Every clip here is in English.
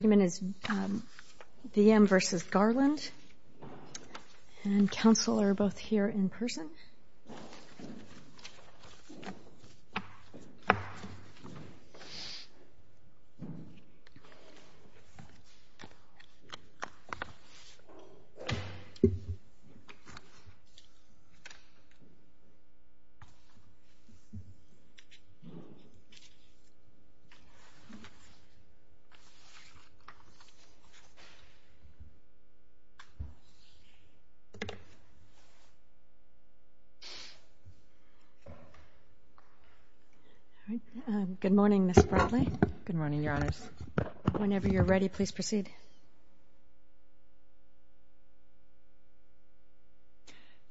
The argument is V.M. v. Garland and counsel are both here in person. Ms. Bradley, whenever you're ready, please proceed.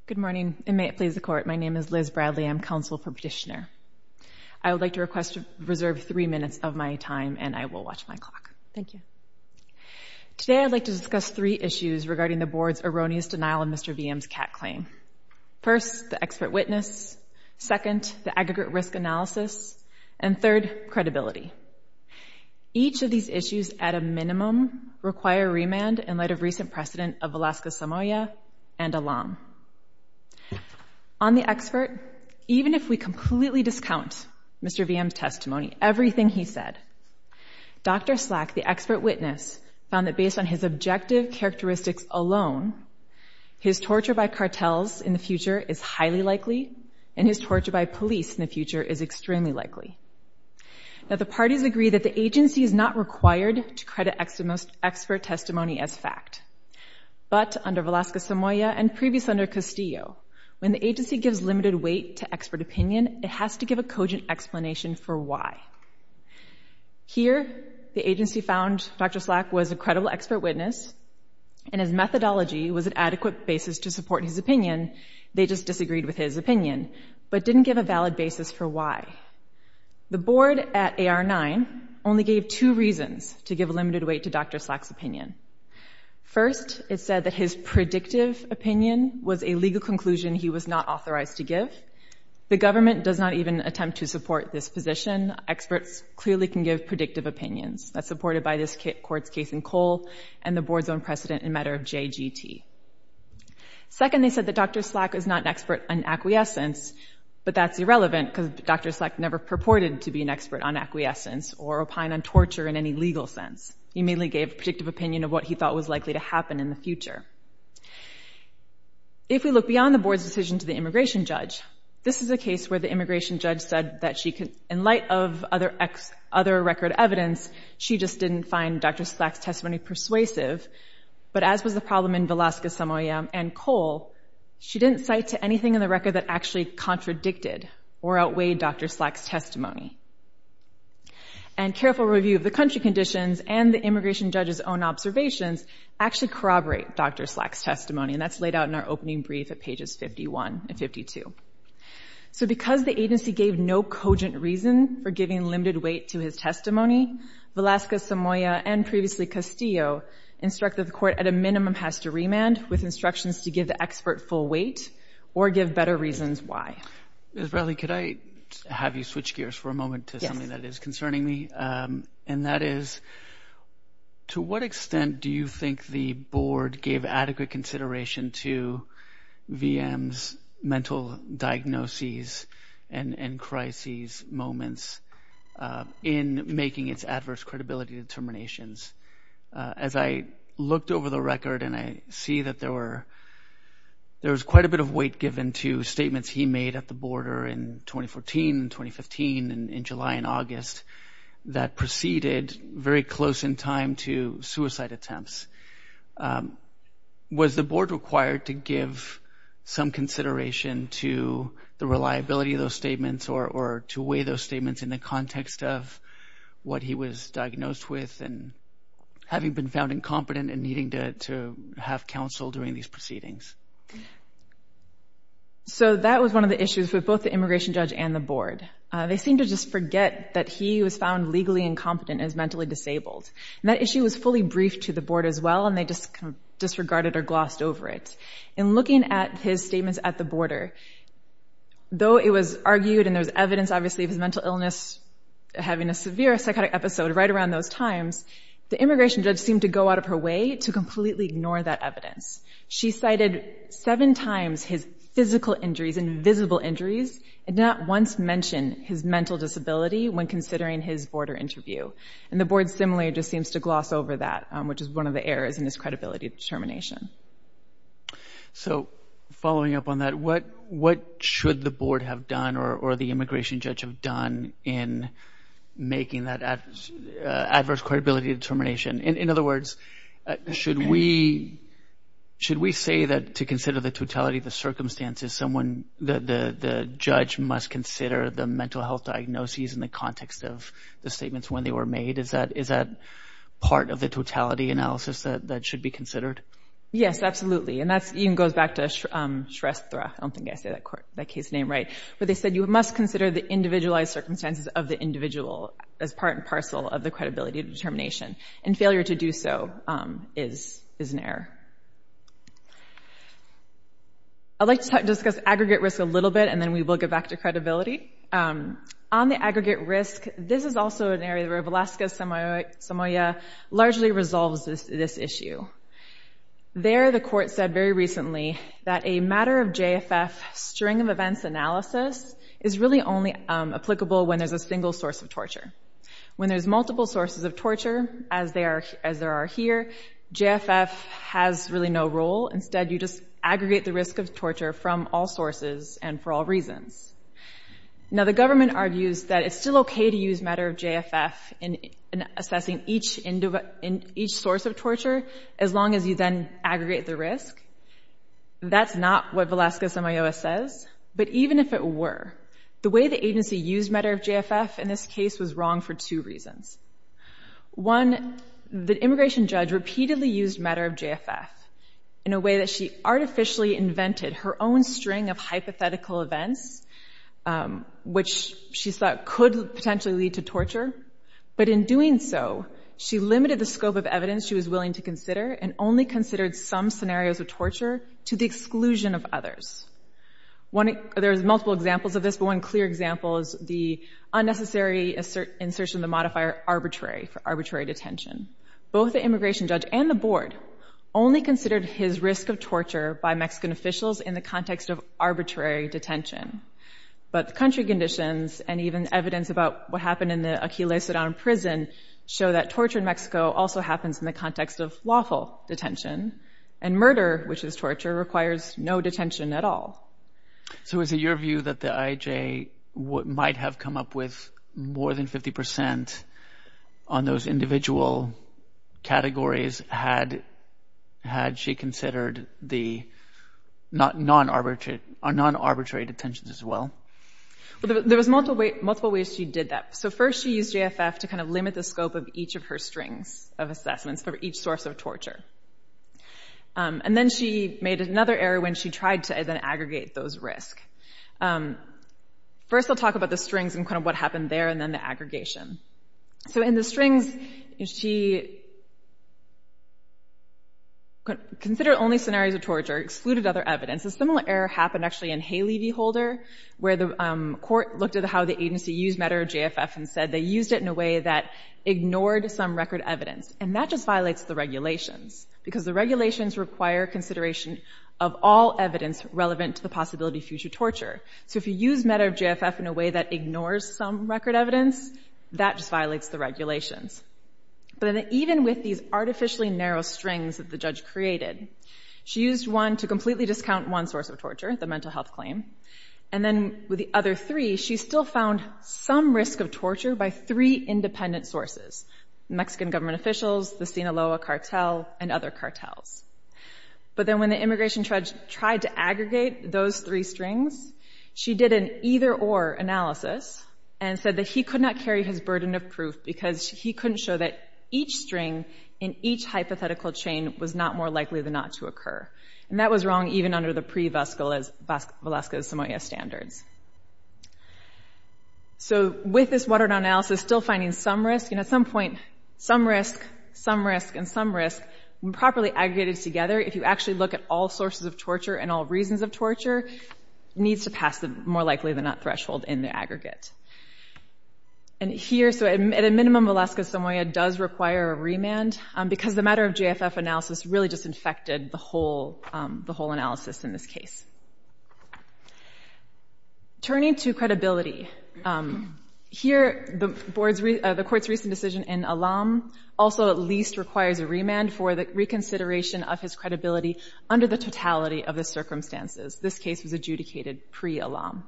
Good morning, and may it please the Court. My name is Liz Bradley. I'm counsel for petitioner. I would like to reserve three minutes of my time, and I will watch my clock. Thank you. Today I'd like to discuss three issues regarding the Board's erroneous denial of Mr. V.M.'s CAT claim. First, the expert witness. Second, the aggregate risk analysis. And third, credibility. Each of these issues, at a minimum, require remand in light of recent precedent of Alaska-Samoa and Elam. On the expert, even if we completely discount Mr. V.M.'s testimony, everything he said, Dr. Slack, the expert witness, found that based on his objective characteristics alone, his torture by cartels in the future is highly likely, and his torture by police in the future is extremely likely. Now, the parties agree that the agency is not required to credit expert testimony as fact. But, under Velasco-Samoa, and previously under Castillo, when the agency gives limited weight to expert opinion, it has to give a cogent explanation for why. Here, the agency found Dr. Slack was a credible expert witness, and his methodology was an adequate basis to support his opinion. They just disagreed with his opinion, but didn't give a valid basis for why. The Board at AR-9 only gave two reasons to give limited weight to Dr. Slack's opinion. First, it said that his predictive opinion was a legal conclusion he was not authorized to give. The government does not even attempt to support this position. Experts clearly can give predictive opinions. That's supported by this court's case in Cole, and the Board's own precedent in matter of JGT. Second, they said that Dr. Slack is not an expert on acquiescence, but that's irrelevant, because Dr. Slack never purported to be an expert on acquiescence, or opine on torture in any legal sense. He merely gave a predictive opinion of what he thought was likely to happen in the future. If we look beyond the Board's decision to the immigration judge, this is a case where the immigration judge said that in light of other record evidence, she just didn't find Dr. Slack's testimony persuasive. But as was the problem in Velasquez, Samoa, and Cole, she didn't cite to anything in the record that actually contradicted or outweighed Dr. Slack's testimony. And careful review of the country conditions and the immigration judge's own observations actually corroborate Dr. Slack's testimony. And that's laid out in our opening brief at pages 51 and 52. So because the agency gave no cogent reason for giving limited weight to his testimony, Velasquez, Samoa, and previously Castillo, instructed the court at a minimum has to remand with instructions to give the expert full weight, or give better reasons why. Israeli, could I have you switch gears for a moment to something that is concerning me? And that is, to what extent do you think the Board gave adequate consideration to VM's mental diagnoses and crises moments in making its adverse credibility determinations? As I looked over the record and I see that there was quite a bit of weight given to statements he made at the border in 2014 and 2015 and in July and August that proceeded very close in time to suicide attempts. Was the Board required to give some consideration to the reliability of those statements or to weigh those statements in the context of what he was diagnosed with and having been found incompetent and needing to have counsel during these proceedings? So that was one of the issues with both the immigration judge and the Board. They seemed to just forget that he was found legally incompetent and mentally disabled. That issue was fully briefed to the Board as well and they just disregarded or glossed over it. In looking at his statements at the border, though it was argued and there was evidence obviously of his mental illness having a severe psychotic episode right around those times, the immigration judge seemed to go out of her way to completely ignore that evidence. She cited seven times his physical injuries and visible injuries and did not once mention his mental disability when considering his border interview. And the Board similarly just seems to gloss over that, which is one of the errors in his credibility determination. So following up on that, what should the Board have done or the immigration judge have done in making that adverse credibility determination? In other words, should we say that to consider the totality of the circumstances, the judge must consider the mental health diagnoses in the context of the statements when they were made? Is that part of the totality analysis that should be considered? Yes, absolutely. And that even goes back to Shrestha. I don't think I said that case name right. But they said you must consider the individualized circumstances of the individual as part and parcel of the credibility determination. And failure to do so is an error. I'd like to discuss aggregate risk a little bit, and then we will get back to credibility. On the aggregate risk, this is also an area where Velasquez-Samoya largely resolves this issue. There, the court said very recently that a matter-of-JFF string-of-events analysis is really only applicable when there's a single source of torture. When there's multiple sources of torture, as there are here, JFF has really no role. Instead, you just aggregate the risk of torture from all sources and for all reasons. Now, the government argues that it's still okay to use matter-of-JFF in assessing each source of torture as long as you then aggregate the risk. That's not what Velasquez-Samoya says. But even if it were, the way the agency used matter-of-JFF in this case was wrong for two reasons. One, the immigration judge repeatedly used matter-of-JFF in a way that she artificially invented her own string of hypothetical events, which she thought could potentially lead to torture. But in doing so, she limited the scope of evidence she was willing to consider and only considered some scenarios of torture to the exclusion of others. There's multiple examples of this, but one clear example is the unnecessary insertion of the modifier arbitrary for arbitrary detention. Both the immigration judge and the board only considered his risk of torture by Mexican officials in the context of arbitrary detention. But the country conditions and even evidence about what happened in the Aquiles-Sedan prison show that torture in Mexico also happens in the context of lawful detention. And murder, which is torture, requires no detention at all. So is it your view that the IJ might have come up with more than 50% on those individual categories had she considered the non-arbitrary detentions as well? There was multiple ways she did that. So first she used JFF to kind of limit the scope of each of her strings of assessments for each source of torture. And then she made another error when she tried to then aggregate those risks. First I'll talk about the strings and kind of what happened there and then the aggregation. So in the strings, she considered only scenarios of torture, excluded other evidence. A similar error happened actually in Haley v. Holder, where the court looked at how the agency used META or JFF and said they used it in a way that ignored some record evidence. And that just violates the regulations, because the regulations require consideration of all evidence relevant to the possibility of future torture. So if you use META or JFF in a way that ignores some record evidence, that just violates the regulations. But even with these artificially narrow strings that the judge created, she used one to completely discount one source of torture, the mental health claim, and then with the other three, she still found some risk of torture by three independent sources, Mexican government officials, the Sinaloa cartel, and other cartels. But then when the immigration judge tried to aggregate those three strings, she did an either-or analysis and said that he could not carry his burden of proof because he couldn't show that each string in each hypothetical chain was not more likely than not to occur. And that was wrong even under the pre-Velasco-Samoa standards. So with this watered-down analysis, still finding some risk. And at some point, some risk, some risk, and some risk, when properly aggregated together, if you actually look at all sources of torture and all reasons of torture, needs to pass the more likely than not threshold in the aggregate. And here, so at a minimum, Velasco-Samoa does require a remand, because the matter of JFF analysis really just infected the whole analysis in this case. Turning to credibility, here the court's recent decision in Alam also at least requires a remand for the reconsideration of his credibility under the totality of the circumstances. This case was adjudicated pre-Alam.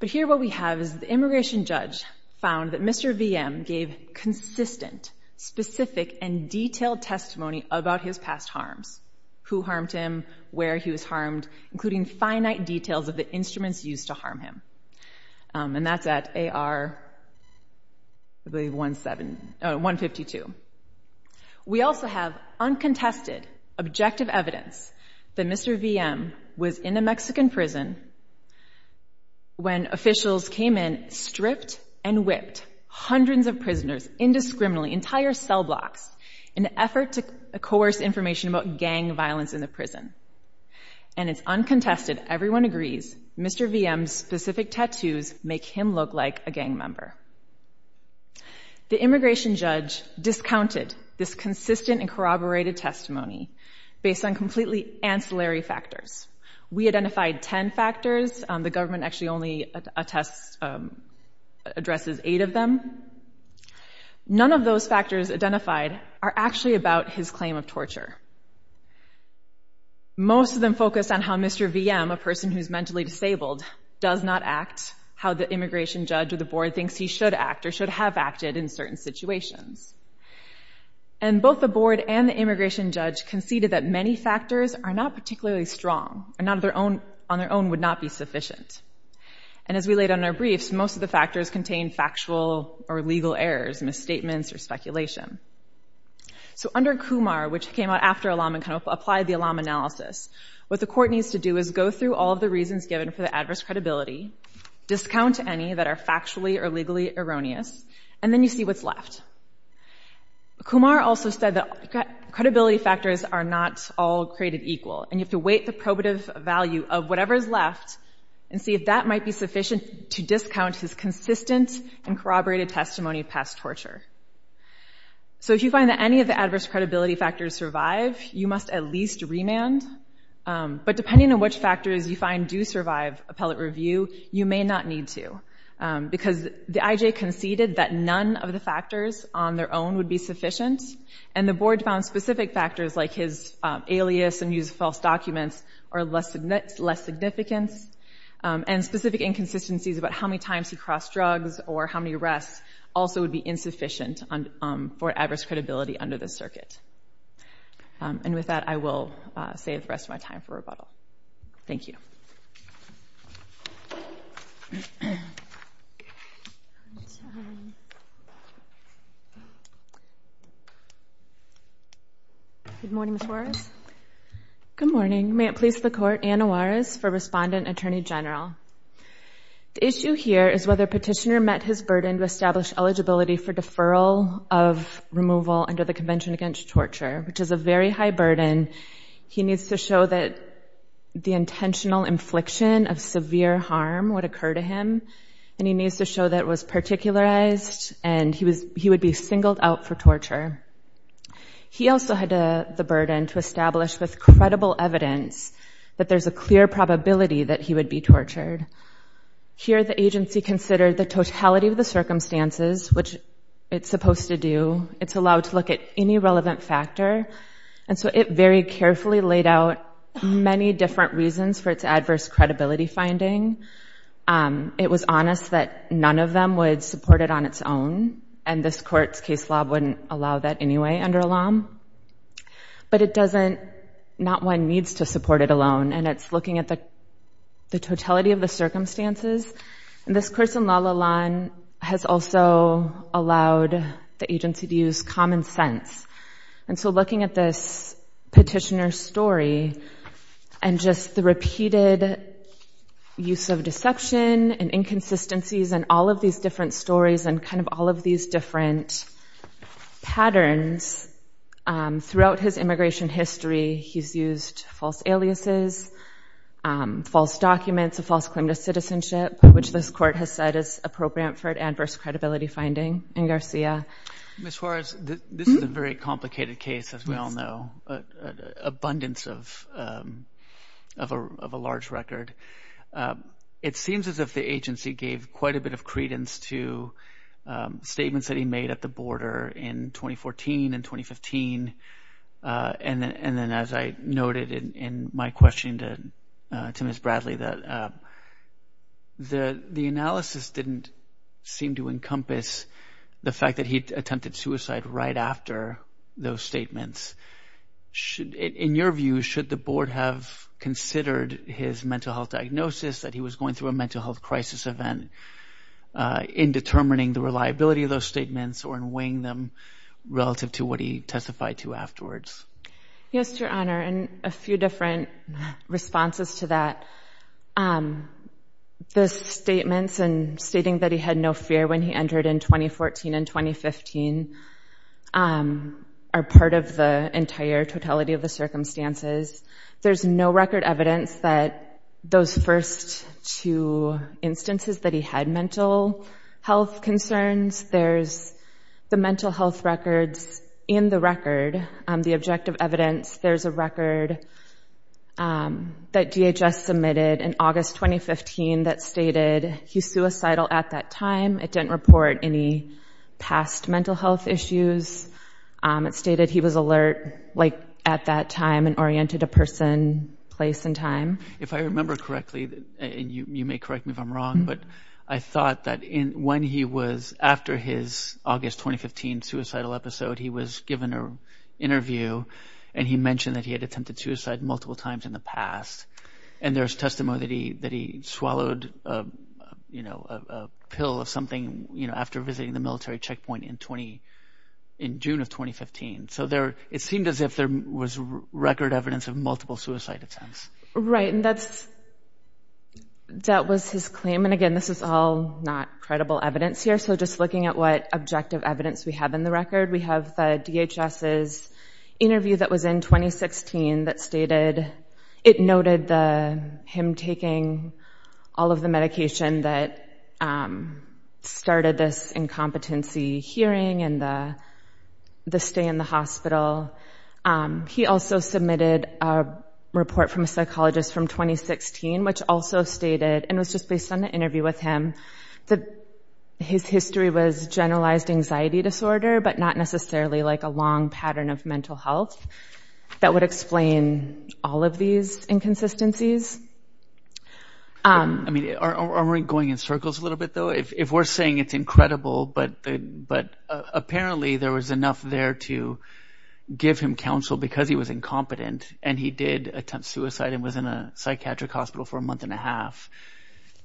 But here what we have is the immigration judge found that Mr. VM gave consistent, specific, and detailed testimony about his past harms. Who harmed him, where he was harmed, including finite details of the instruments used to harm him. And that's at AR 152. We also have uncontested, objective evidence that Mr. VM was in a Mexican prison when officials came in, stripped and whipped hundreds of prisoners indiscriminately, entire cell blocks, in an effort to coerce information about gang violence in the prison. And it's uncontested, everyone agrees, Mr. VM's specific tattoos make him look like a gang member. The immigration judge discounted this consistent and corroborated testimony based on completely ancillary factors. We identified 10 factors, the government actually only addresses 8 of them. None of those factors identified are actually about his claim of torture. Most of them focus on how Mr. VM, a person who's mentally disabled, does not act, how the immigration judge or the board thinks he should act or should have acted in certain situations. And both the board and the immigration judge conceded that many factors are not particularly strong and on their own would not be sufficient. And as we laid out in our briefs, most of the factors contain factual or legal errors, misstatements or speculation. So under Kumar, which came out after Alam and kind of applied the Alam analysis, what the court needs to do is go through all of the reasons given for the adverse credibility, discount any that are factually or legally erroneous, and then you see what's left. Kumar also said that credibility factors are not all created equal and you have to weight the probative value of whatever's left and see if that might be sufficient to discount his consistent and corroborated testimony past torture. So if you find that any of the adverse credibility factors survive, you must at least remand. But depending on which factors you find do survive appellate review, you may not need to because the IJ conceded that none of the factors on their own would be sufficient and the board found specific factors like his alias and used false documents are less significant and specific inconsistencies about how many times he crossed drugs or how many arrests also would be insufficient for adverse credibility under this circuit. And with that, I will save the rest of my time for rebuttal. Thank you. Good morning, Ms. Juarez. Good morning. May it please the court, Anna Juarez for Respondent Attorney General. The issue here is whether Petitioner met his burden to establish eligibility for deferral of removal under the Convention Against Torture, which is a very high burden. He needs to show that the intentional infliction of severe harm would occur to him and he needs to show that it was particularized and he would be singled out for torture. He also had the burden to establish with credible evidence that there's a clear probability that he would be tortured. Here, the agency considered the totality of the circumstances, which it's supposed to do. It's allowed to look at any relevant factor. And so it very carefully laid out many different reasons for its adverse credibility finding. It was honest that none of them would support it on its own, and this court's case law wouldn't allow that anyway under LOM. But it doesn't—not one needs to support it alone, and it's looking at the totality of the circumstances. And this course in La La Land has also allowed the agency to use common sense. And so looking at this petitioner's story and just the repeated use of deception and inconsistencies and all of these different stories and kind of all of these different patterns throughout his immigration history, he's used false aliases, false documents, a false claim to citizenship, which this court has said is appropriate for an adverse credibility finding in Garcia. Ms. Juarez, this is a very complicated case, as we all know. Abundance of a large record. It seems as if the agency gave quite a bit of credence to statements that he made at the border in 2014 and 2015 and then as I noted in my question to Ms. Bradley, that the analysis didn't seem to encompass the fact that he attempted suicide right after those statements. In your view, should the board have considered his mental health diagnosis, that he was going through a mental health crisis event, in determining the reliability of those statements or in weighing them relative to what he testified to afterwards? Yes, Your Honor, and a few different responses to that. The statements and stating that he had no fear when he entered in 2014 and 2015 are part of the entire totality of the circumstances. There's no record evidence that those first two instances that he had mental health concerns. There's the mental health records in the record, the objective evidence. There's a record that DHS submitted in August 2015 that stated he's suicidal at that time. It didn't report any past mental health issues. It stated he was alert at that time and oriented a person, place, and time. If I remember correctly, and you may correct me if I'm wrong, but I thought that after his August 2015 suicidal episode, he was given an interview and he mentioned that he had attempted suicide multiple times in the past. There's testimony that he swallowed a pill of something after visiting the military checkpoint in June of 2015. It seemed as if there was record evidence of multiple suicide attempts. Right, and that was his claim, and again, this is all not credible evidence here. So just looking at what objective evidence we have in the record, we have the DHS's interview that was in 2016 that stated it noted him taking all of the medication that started this incompetency hearing and the stay in the hospital. He also submitted a report from a psychologist from 2016 which also stated, and it was just based on the interview with him, that his history was generalized anxiety disorder, but not necessarily like a long pattern of mental health. That would explain all of these inconsistencies. I mean, are we going in circles a little bit, though? If we're saying it's incredible, but apparently there was enough there to give him counsel because he was incompetent and he did attempt suicide and was in a psychiatric hospital for a month and a half,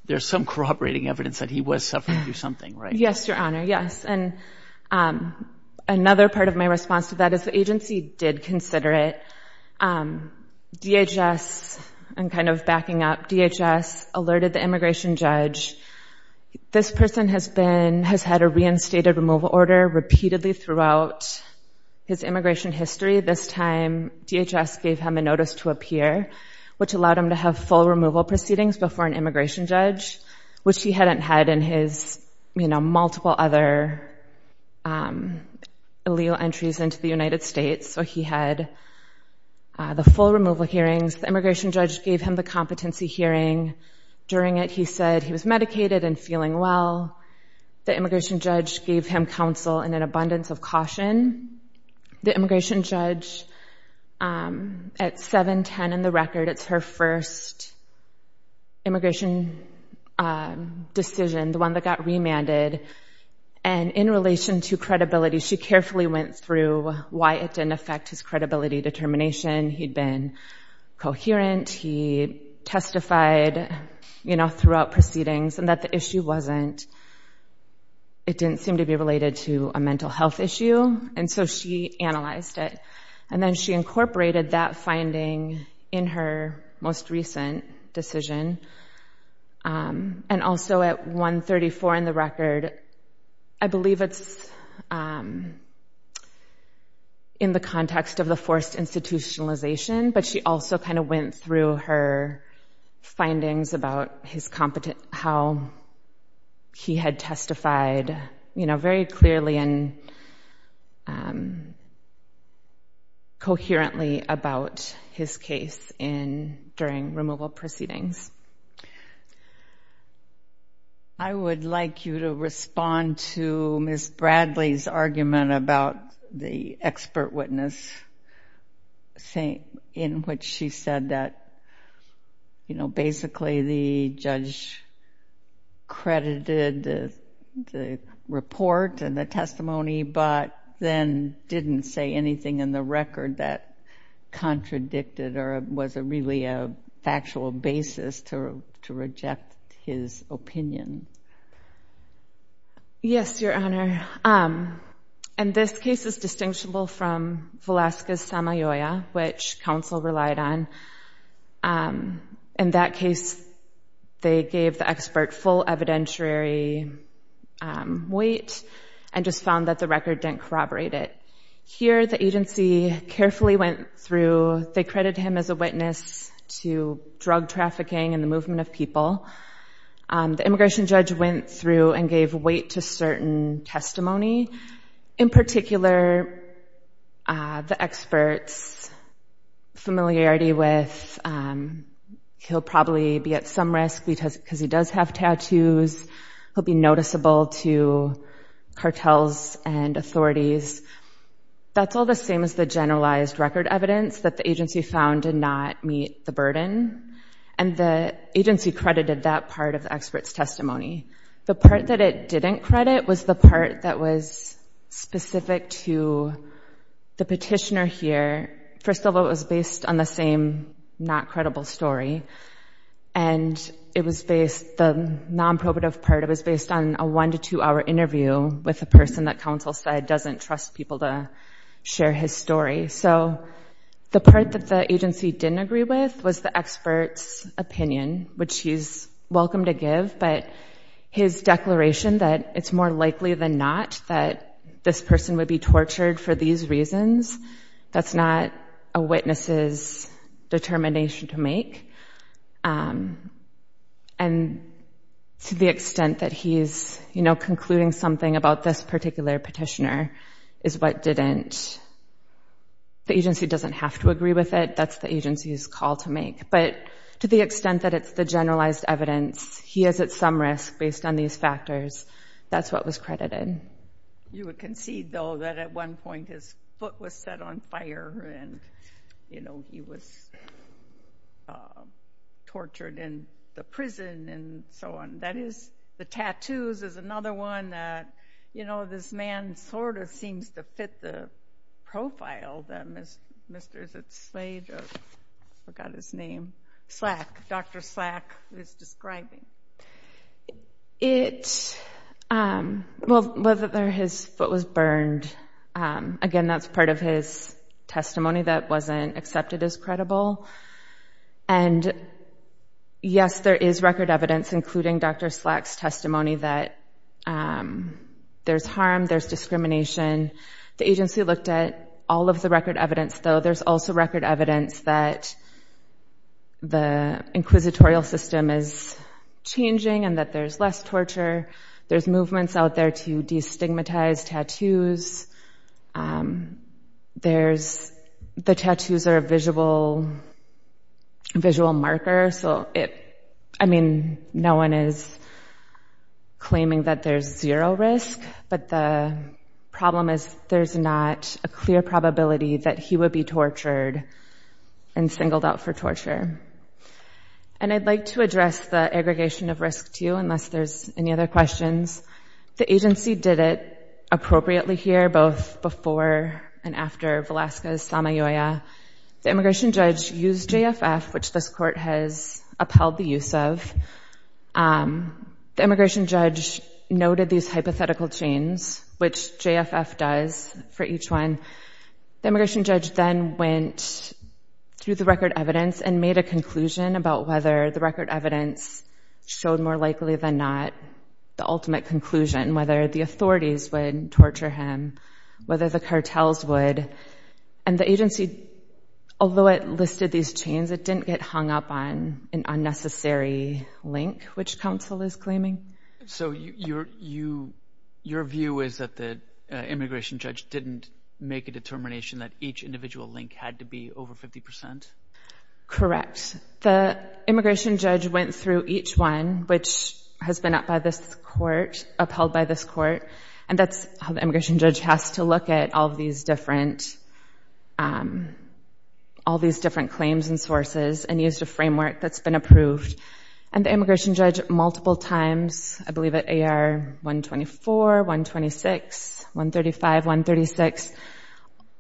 there's some corroborating evidence that he was suffering through something, right? Yes, Your Honor, yes, and another part of my response to that is the agency did consider it. DHS, and kind of backing up, DHS alerted the immigration judge. This person has had a reinstated removal order repeatedly throughout his immigration history. This time, DHS gave him a notice to appear, which allowed him to have full removal proceedings before an immigration judge, which he hadn't had in his multiple other allele entries into the United States. So he had the full removal hearings. The immigration judge gave him the competency hearing. During it, he said he was medicated and feeling well. The immigration judge gave him counsel and an abundance of caution. The immigration judge, at 7-10 in the record, it's her first immigration decision, the one that got remanded, and in relation to credibility, she carefully went through why it didn't affect his credibility determination. He'd been coherent. He testified, you know, throughout proceedings and that the issue wasn't, it didn't seem to be related to a mental health issue, and so she analyzed it, and then she incorporated that finding in her most recent decision. And also at 1-34 in the record, I believe it's in the context of the forced institutionalization, but she also kind of went through her findings about his competence, how he had testified, you know, very clearly and coherently about his case during removal proceedings. I would like you to respond to Ms. Bradley's argument about the expert witness, in which she said that, you know, basically the judge credited the report and the testimony, but then didn't say anything in the record that contradicted or was really a factual basis to reject his opinion. Yes, Your Honor. And this case is distinguishable from Valeska's Samayoya, which counsel relied on. In that case, they gave the expert full evidentiary weight and just found that the record didn't corroborate it. Here, the agency carefully went through. They credited him as a witness to drug trafficking and the movement of people. The immigration judge went through and gave weight to certain testimony. In particular, the expert's familiarity with he'll probably be at some risk because he does have tattoos, he'll be noticeable to cartels and authorities. That's all the same as the generalized record evidence that the agency found did not meet the burden. And the agency credited that part of the expert's testimony. The part that it didn't credit was the part that was specific to the petitioner here. First of all, it was based on the same not credible story. And it was based, the nonprobative part, it was based on a one- to two-hour interview with a person that counsel said doesn't trust people to share his story. So the part that the agency didn't agree with was the expert's opinion, which he's welcome to give. But his declaration that it's more likely than not that this person would be tortured for these reasons, that's not a witness's determination to make. And to the extent that he's concluding something about this particular petitioner is what didn't, the agency doesn't have to agree with it, that's the agency's call to make. But to the extent that it's the generalized evidence, he is at some risk based on these factors, that's what was credited. You would concede, though, that at one point his foot was set on fire and, you know, he was tortured in the prison and so on. That is, the tattoos is another one that, you know, this man sort of seems to fit the profile that Mr. Slade, I forgot his name, Slack, Dr. Slack is describing. It, well, whether his foot was burned, again, that's part of his testimony that wasn't accepted as credible. And yes, there is record evidence, including Dr. Slack's testimony, that there's harm, there's discrimination. The agency looked at all of the record evidence, though. There's also record evidence that the inquisitorial system is changing and that there's less torture. There's movements out there to destigmatize tattoos. There's, the tattoos are a visual marker, so it, I mean, no one is claiming that there's zero risk. But the problem is there's not a clear probability that he would be tortured and singled out for torture. And I'd like to address the aggregation of risk, too, unless there's any other questions. The agency did it appropriately here, both before and after Velasquez-Tamayoya. The immigration judge used JFF, which this court has upheld the use of. The immigration judge noted these hypothetical chains, which JFF does for each one. The immigration judge then went through the record evidence and made a conclusion about whether the record evidence showed more likely than not the ultimate conclusion, whether the authorities would torture him, whether the cartels would. And the agency, although it listed these chains, it didn't get hung up on an unnecessary link, which counsel is claiming. So your view is that the immigration judge didn't make a determination that each individual link had to be over 50%? Correct. The immigration judge went through each one, which has been upheld by this court. And that's how the immigration judge has to look at all these different claims and sources and used a framework that's been approved. And the immigration judge multiple times, I believe at AR 124, 126, 135, 136,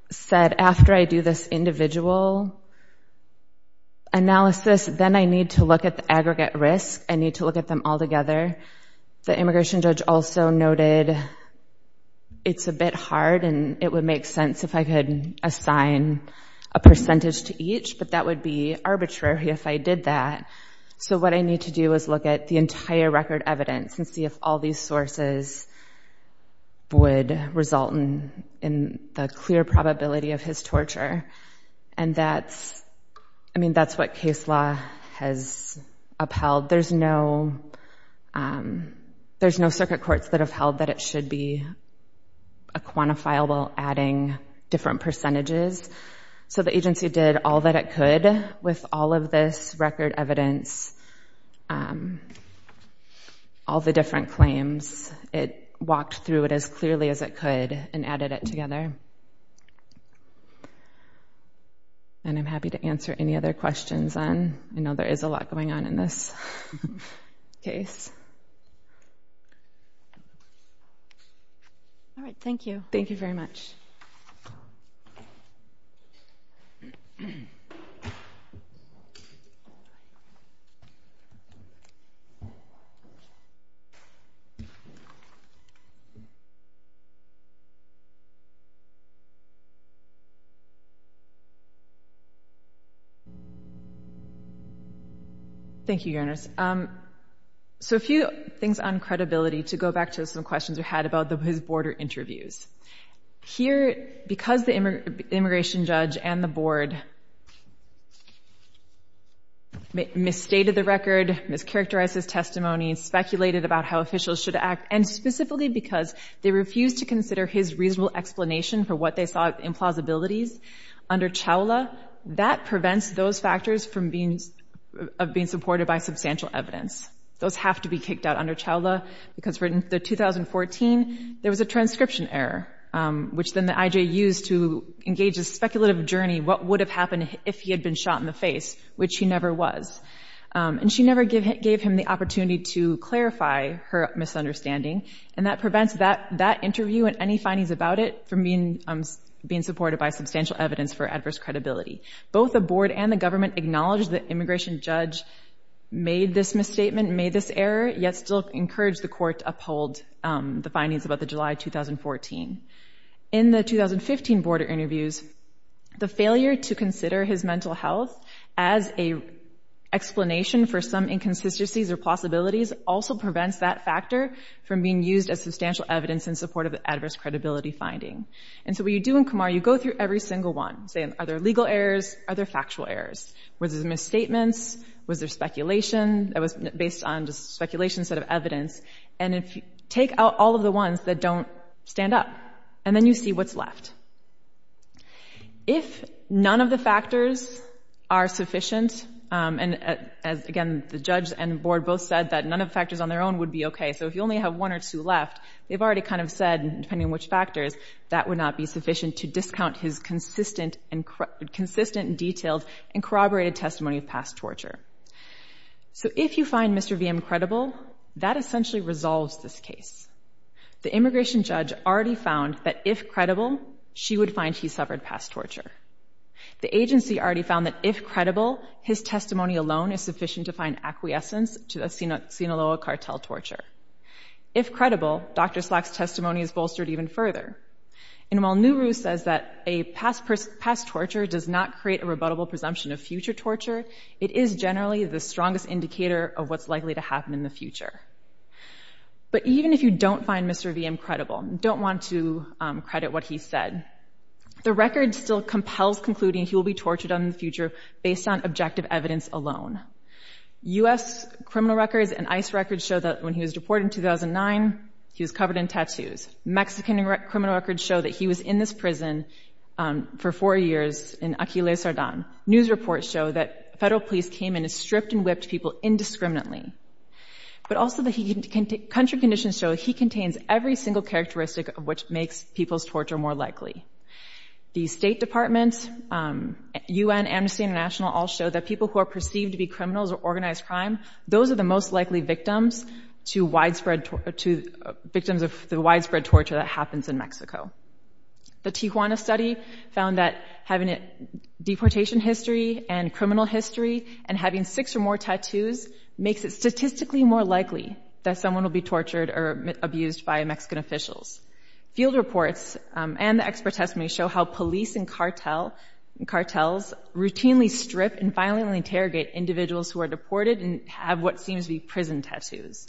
said, after I do this individual analysis, then I need to look at the aggregate risk. I need to look at them all together. The immigration judge also noted it's a bit hard and it would make sense if I could assign a percentage to each, but that would be arbitrary if I did that. So what I need to do is look at the entire record evidence and see if all these sources would result in the clear probability of his torture. And that's what case law has upheld. There's no circuit courts that have held that it should be a quantifiable adding different percentages. So the agency did all that it could with all of this record evidence, all the different claims. It walked through it as clearly as it could and added it together. And I'm happy to answer any other questions then. I know there is a lot going on in this case. All right. Thank you. Thank you very much. Thank you, Your Honors. So a few things on credibility to go back to some questions we had about his border interviews. Here, because the immigration judge and the board misstated the record, mischaracterized his testimony, speculated about how officials should act, and specifically because they refused to consider his reasonable explanation for what they saw as implausibilities under CHOWLA, that prevents those factors from being supported by substantial evidence. Those have to be kicked out under CHOWLA, because for the 2014, there was a transcription error, which then the IJ used to engage a speculative journey, what would have happened if he had been shot in the face, which he never was. And she never gave him the opportunity to clarify her misunderstanding. And that prevents that interview and any findings about it from being supported by substantial evidence for adverse credibility. Both the board and the government acknowledged the immigration judge made this misstatement, made this error, yet still encouraged the court to uphold the findings about the July 2014. In the 2015 border interviews, the failure to consider his mental health as an explanation for some inconsistencies or possibilities also prevents that factor from being used as substantial evidence in support of the adverse credibility finding. And so what you do in CUMAR, you go through every single one, say, are there legal errors, are there factual errors, was there misstatements, was there speculation, that was based on just speculation instead of evidence, and if you take out all of the ones that don't stand up, and then you see what's left. If none of the factors are sufficient, and again, the judge and board both said that none of the factors on their own would be okay, so if you only have one or two left, they've already kind of said, depending on which factors, that would not be sufficient to discount his consistent and detailed and corroborated testimony of past torture. So if you find Mr. Viem credible, that essentially resolves this case. The immigration judge already found that if credible, she would find he suffered past torture. The agency already found that if credible, his testimony alone is sufficient to find acquiescence to the Sinaloa cartel torture. If credible, Dr. Slack's testimony is bolstered even further. And while Nuru says that a past torture does not create a rebuttable presumption of future torture, it is generally the strongest indicator of what's likely to happen in the future. But even if you don't find Mr. Viem credible, don't want to credit what he said, the record still compels concluding he will be tortured in the future based on objective evidence alone. U.S. criminal records and ICE records show that when he was deported in 2009, he was covered in tattoos. Mexican criminal records show that he was in this prison for four years in Aquiles, Sardin. News reports show that federal police came and stripped and whipped people indiscriminately. But also country conditions show he contains every single characteristic of which makes people's torture more likely. The State Department, UN, Amnesty International all show that people who are perceived to be criminals or organized crime, those are the most likely victims of the widespread torture that happens in Mexico. The Tijuana study found that having a deportation history and criminal history and having six or more tattoos makes it statistically more likely that someone will be tortured or abused by Mexican officials. Field reports and the expert testimony show how police and cartels routinely strip and violently interrogate individuals who are deported and have what seems to be prison tattoos.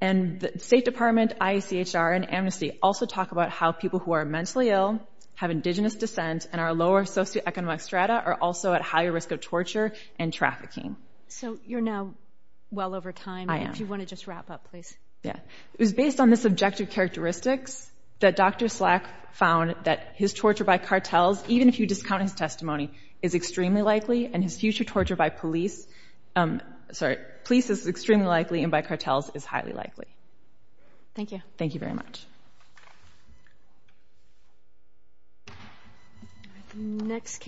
And the State Department, IACHR, and Amnesty also talk about how people who are mentally ill, have indigenous descent, and are lower socioeconomic strata are also at higher risk of torture and trafficking. So you're now well over time. I am. If you want to just wrap up, please. Yeah. It was based on the subjective characteristics that Dr. Slack found that his torture by cartels, even if you discount his testimony, is extremely likely and his future torture by police, sorry, police is extremely likely and by cartels is highly likely. Thank you. Thank you very much. Next case.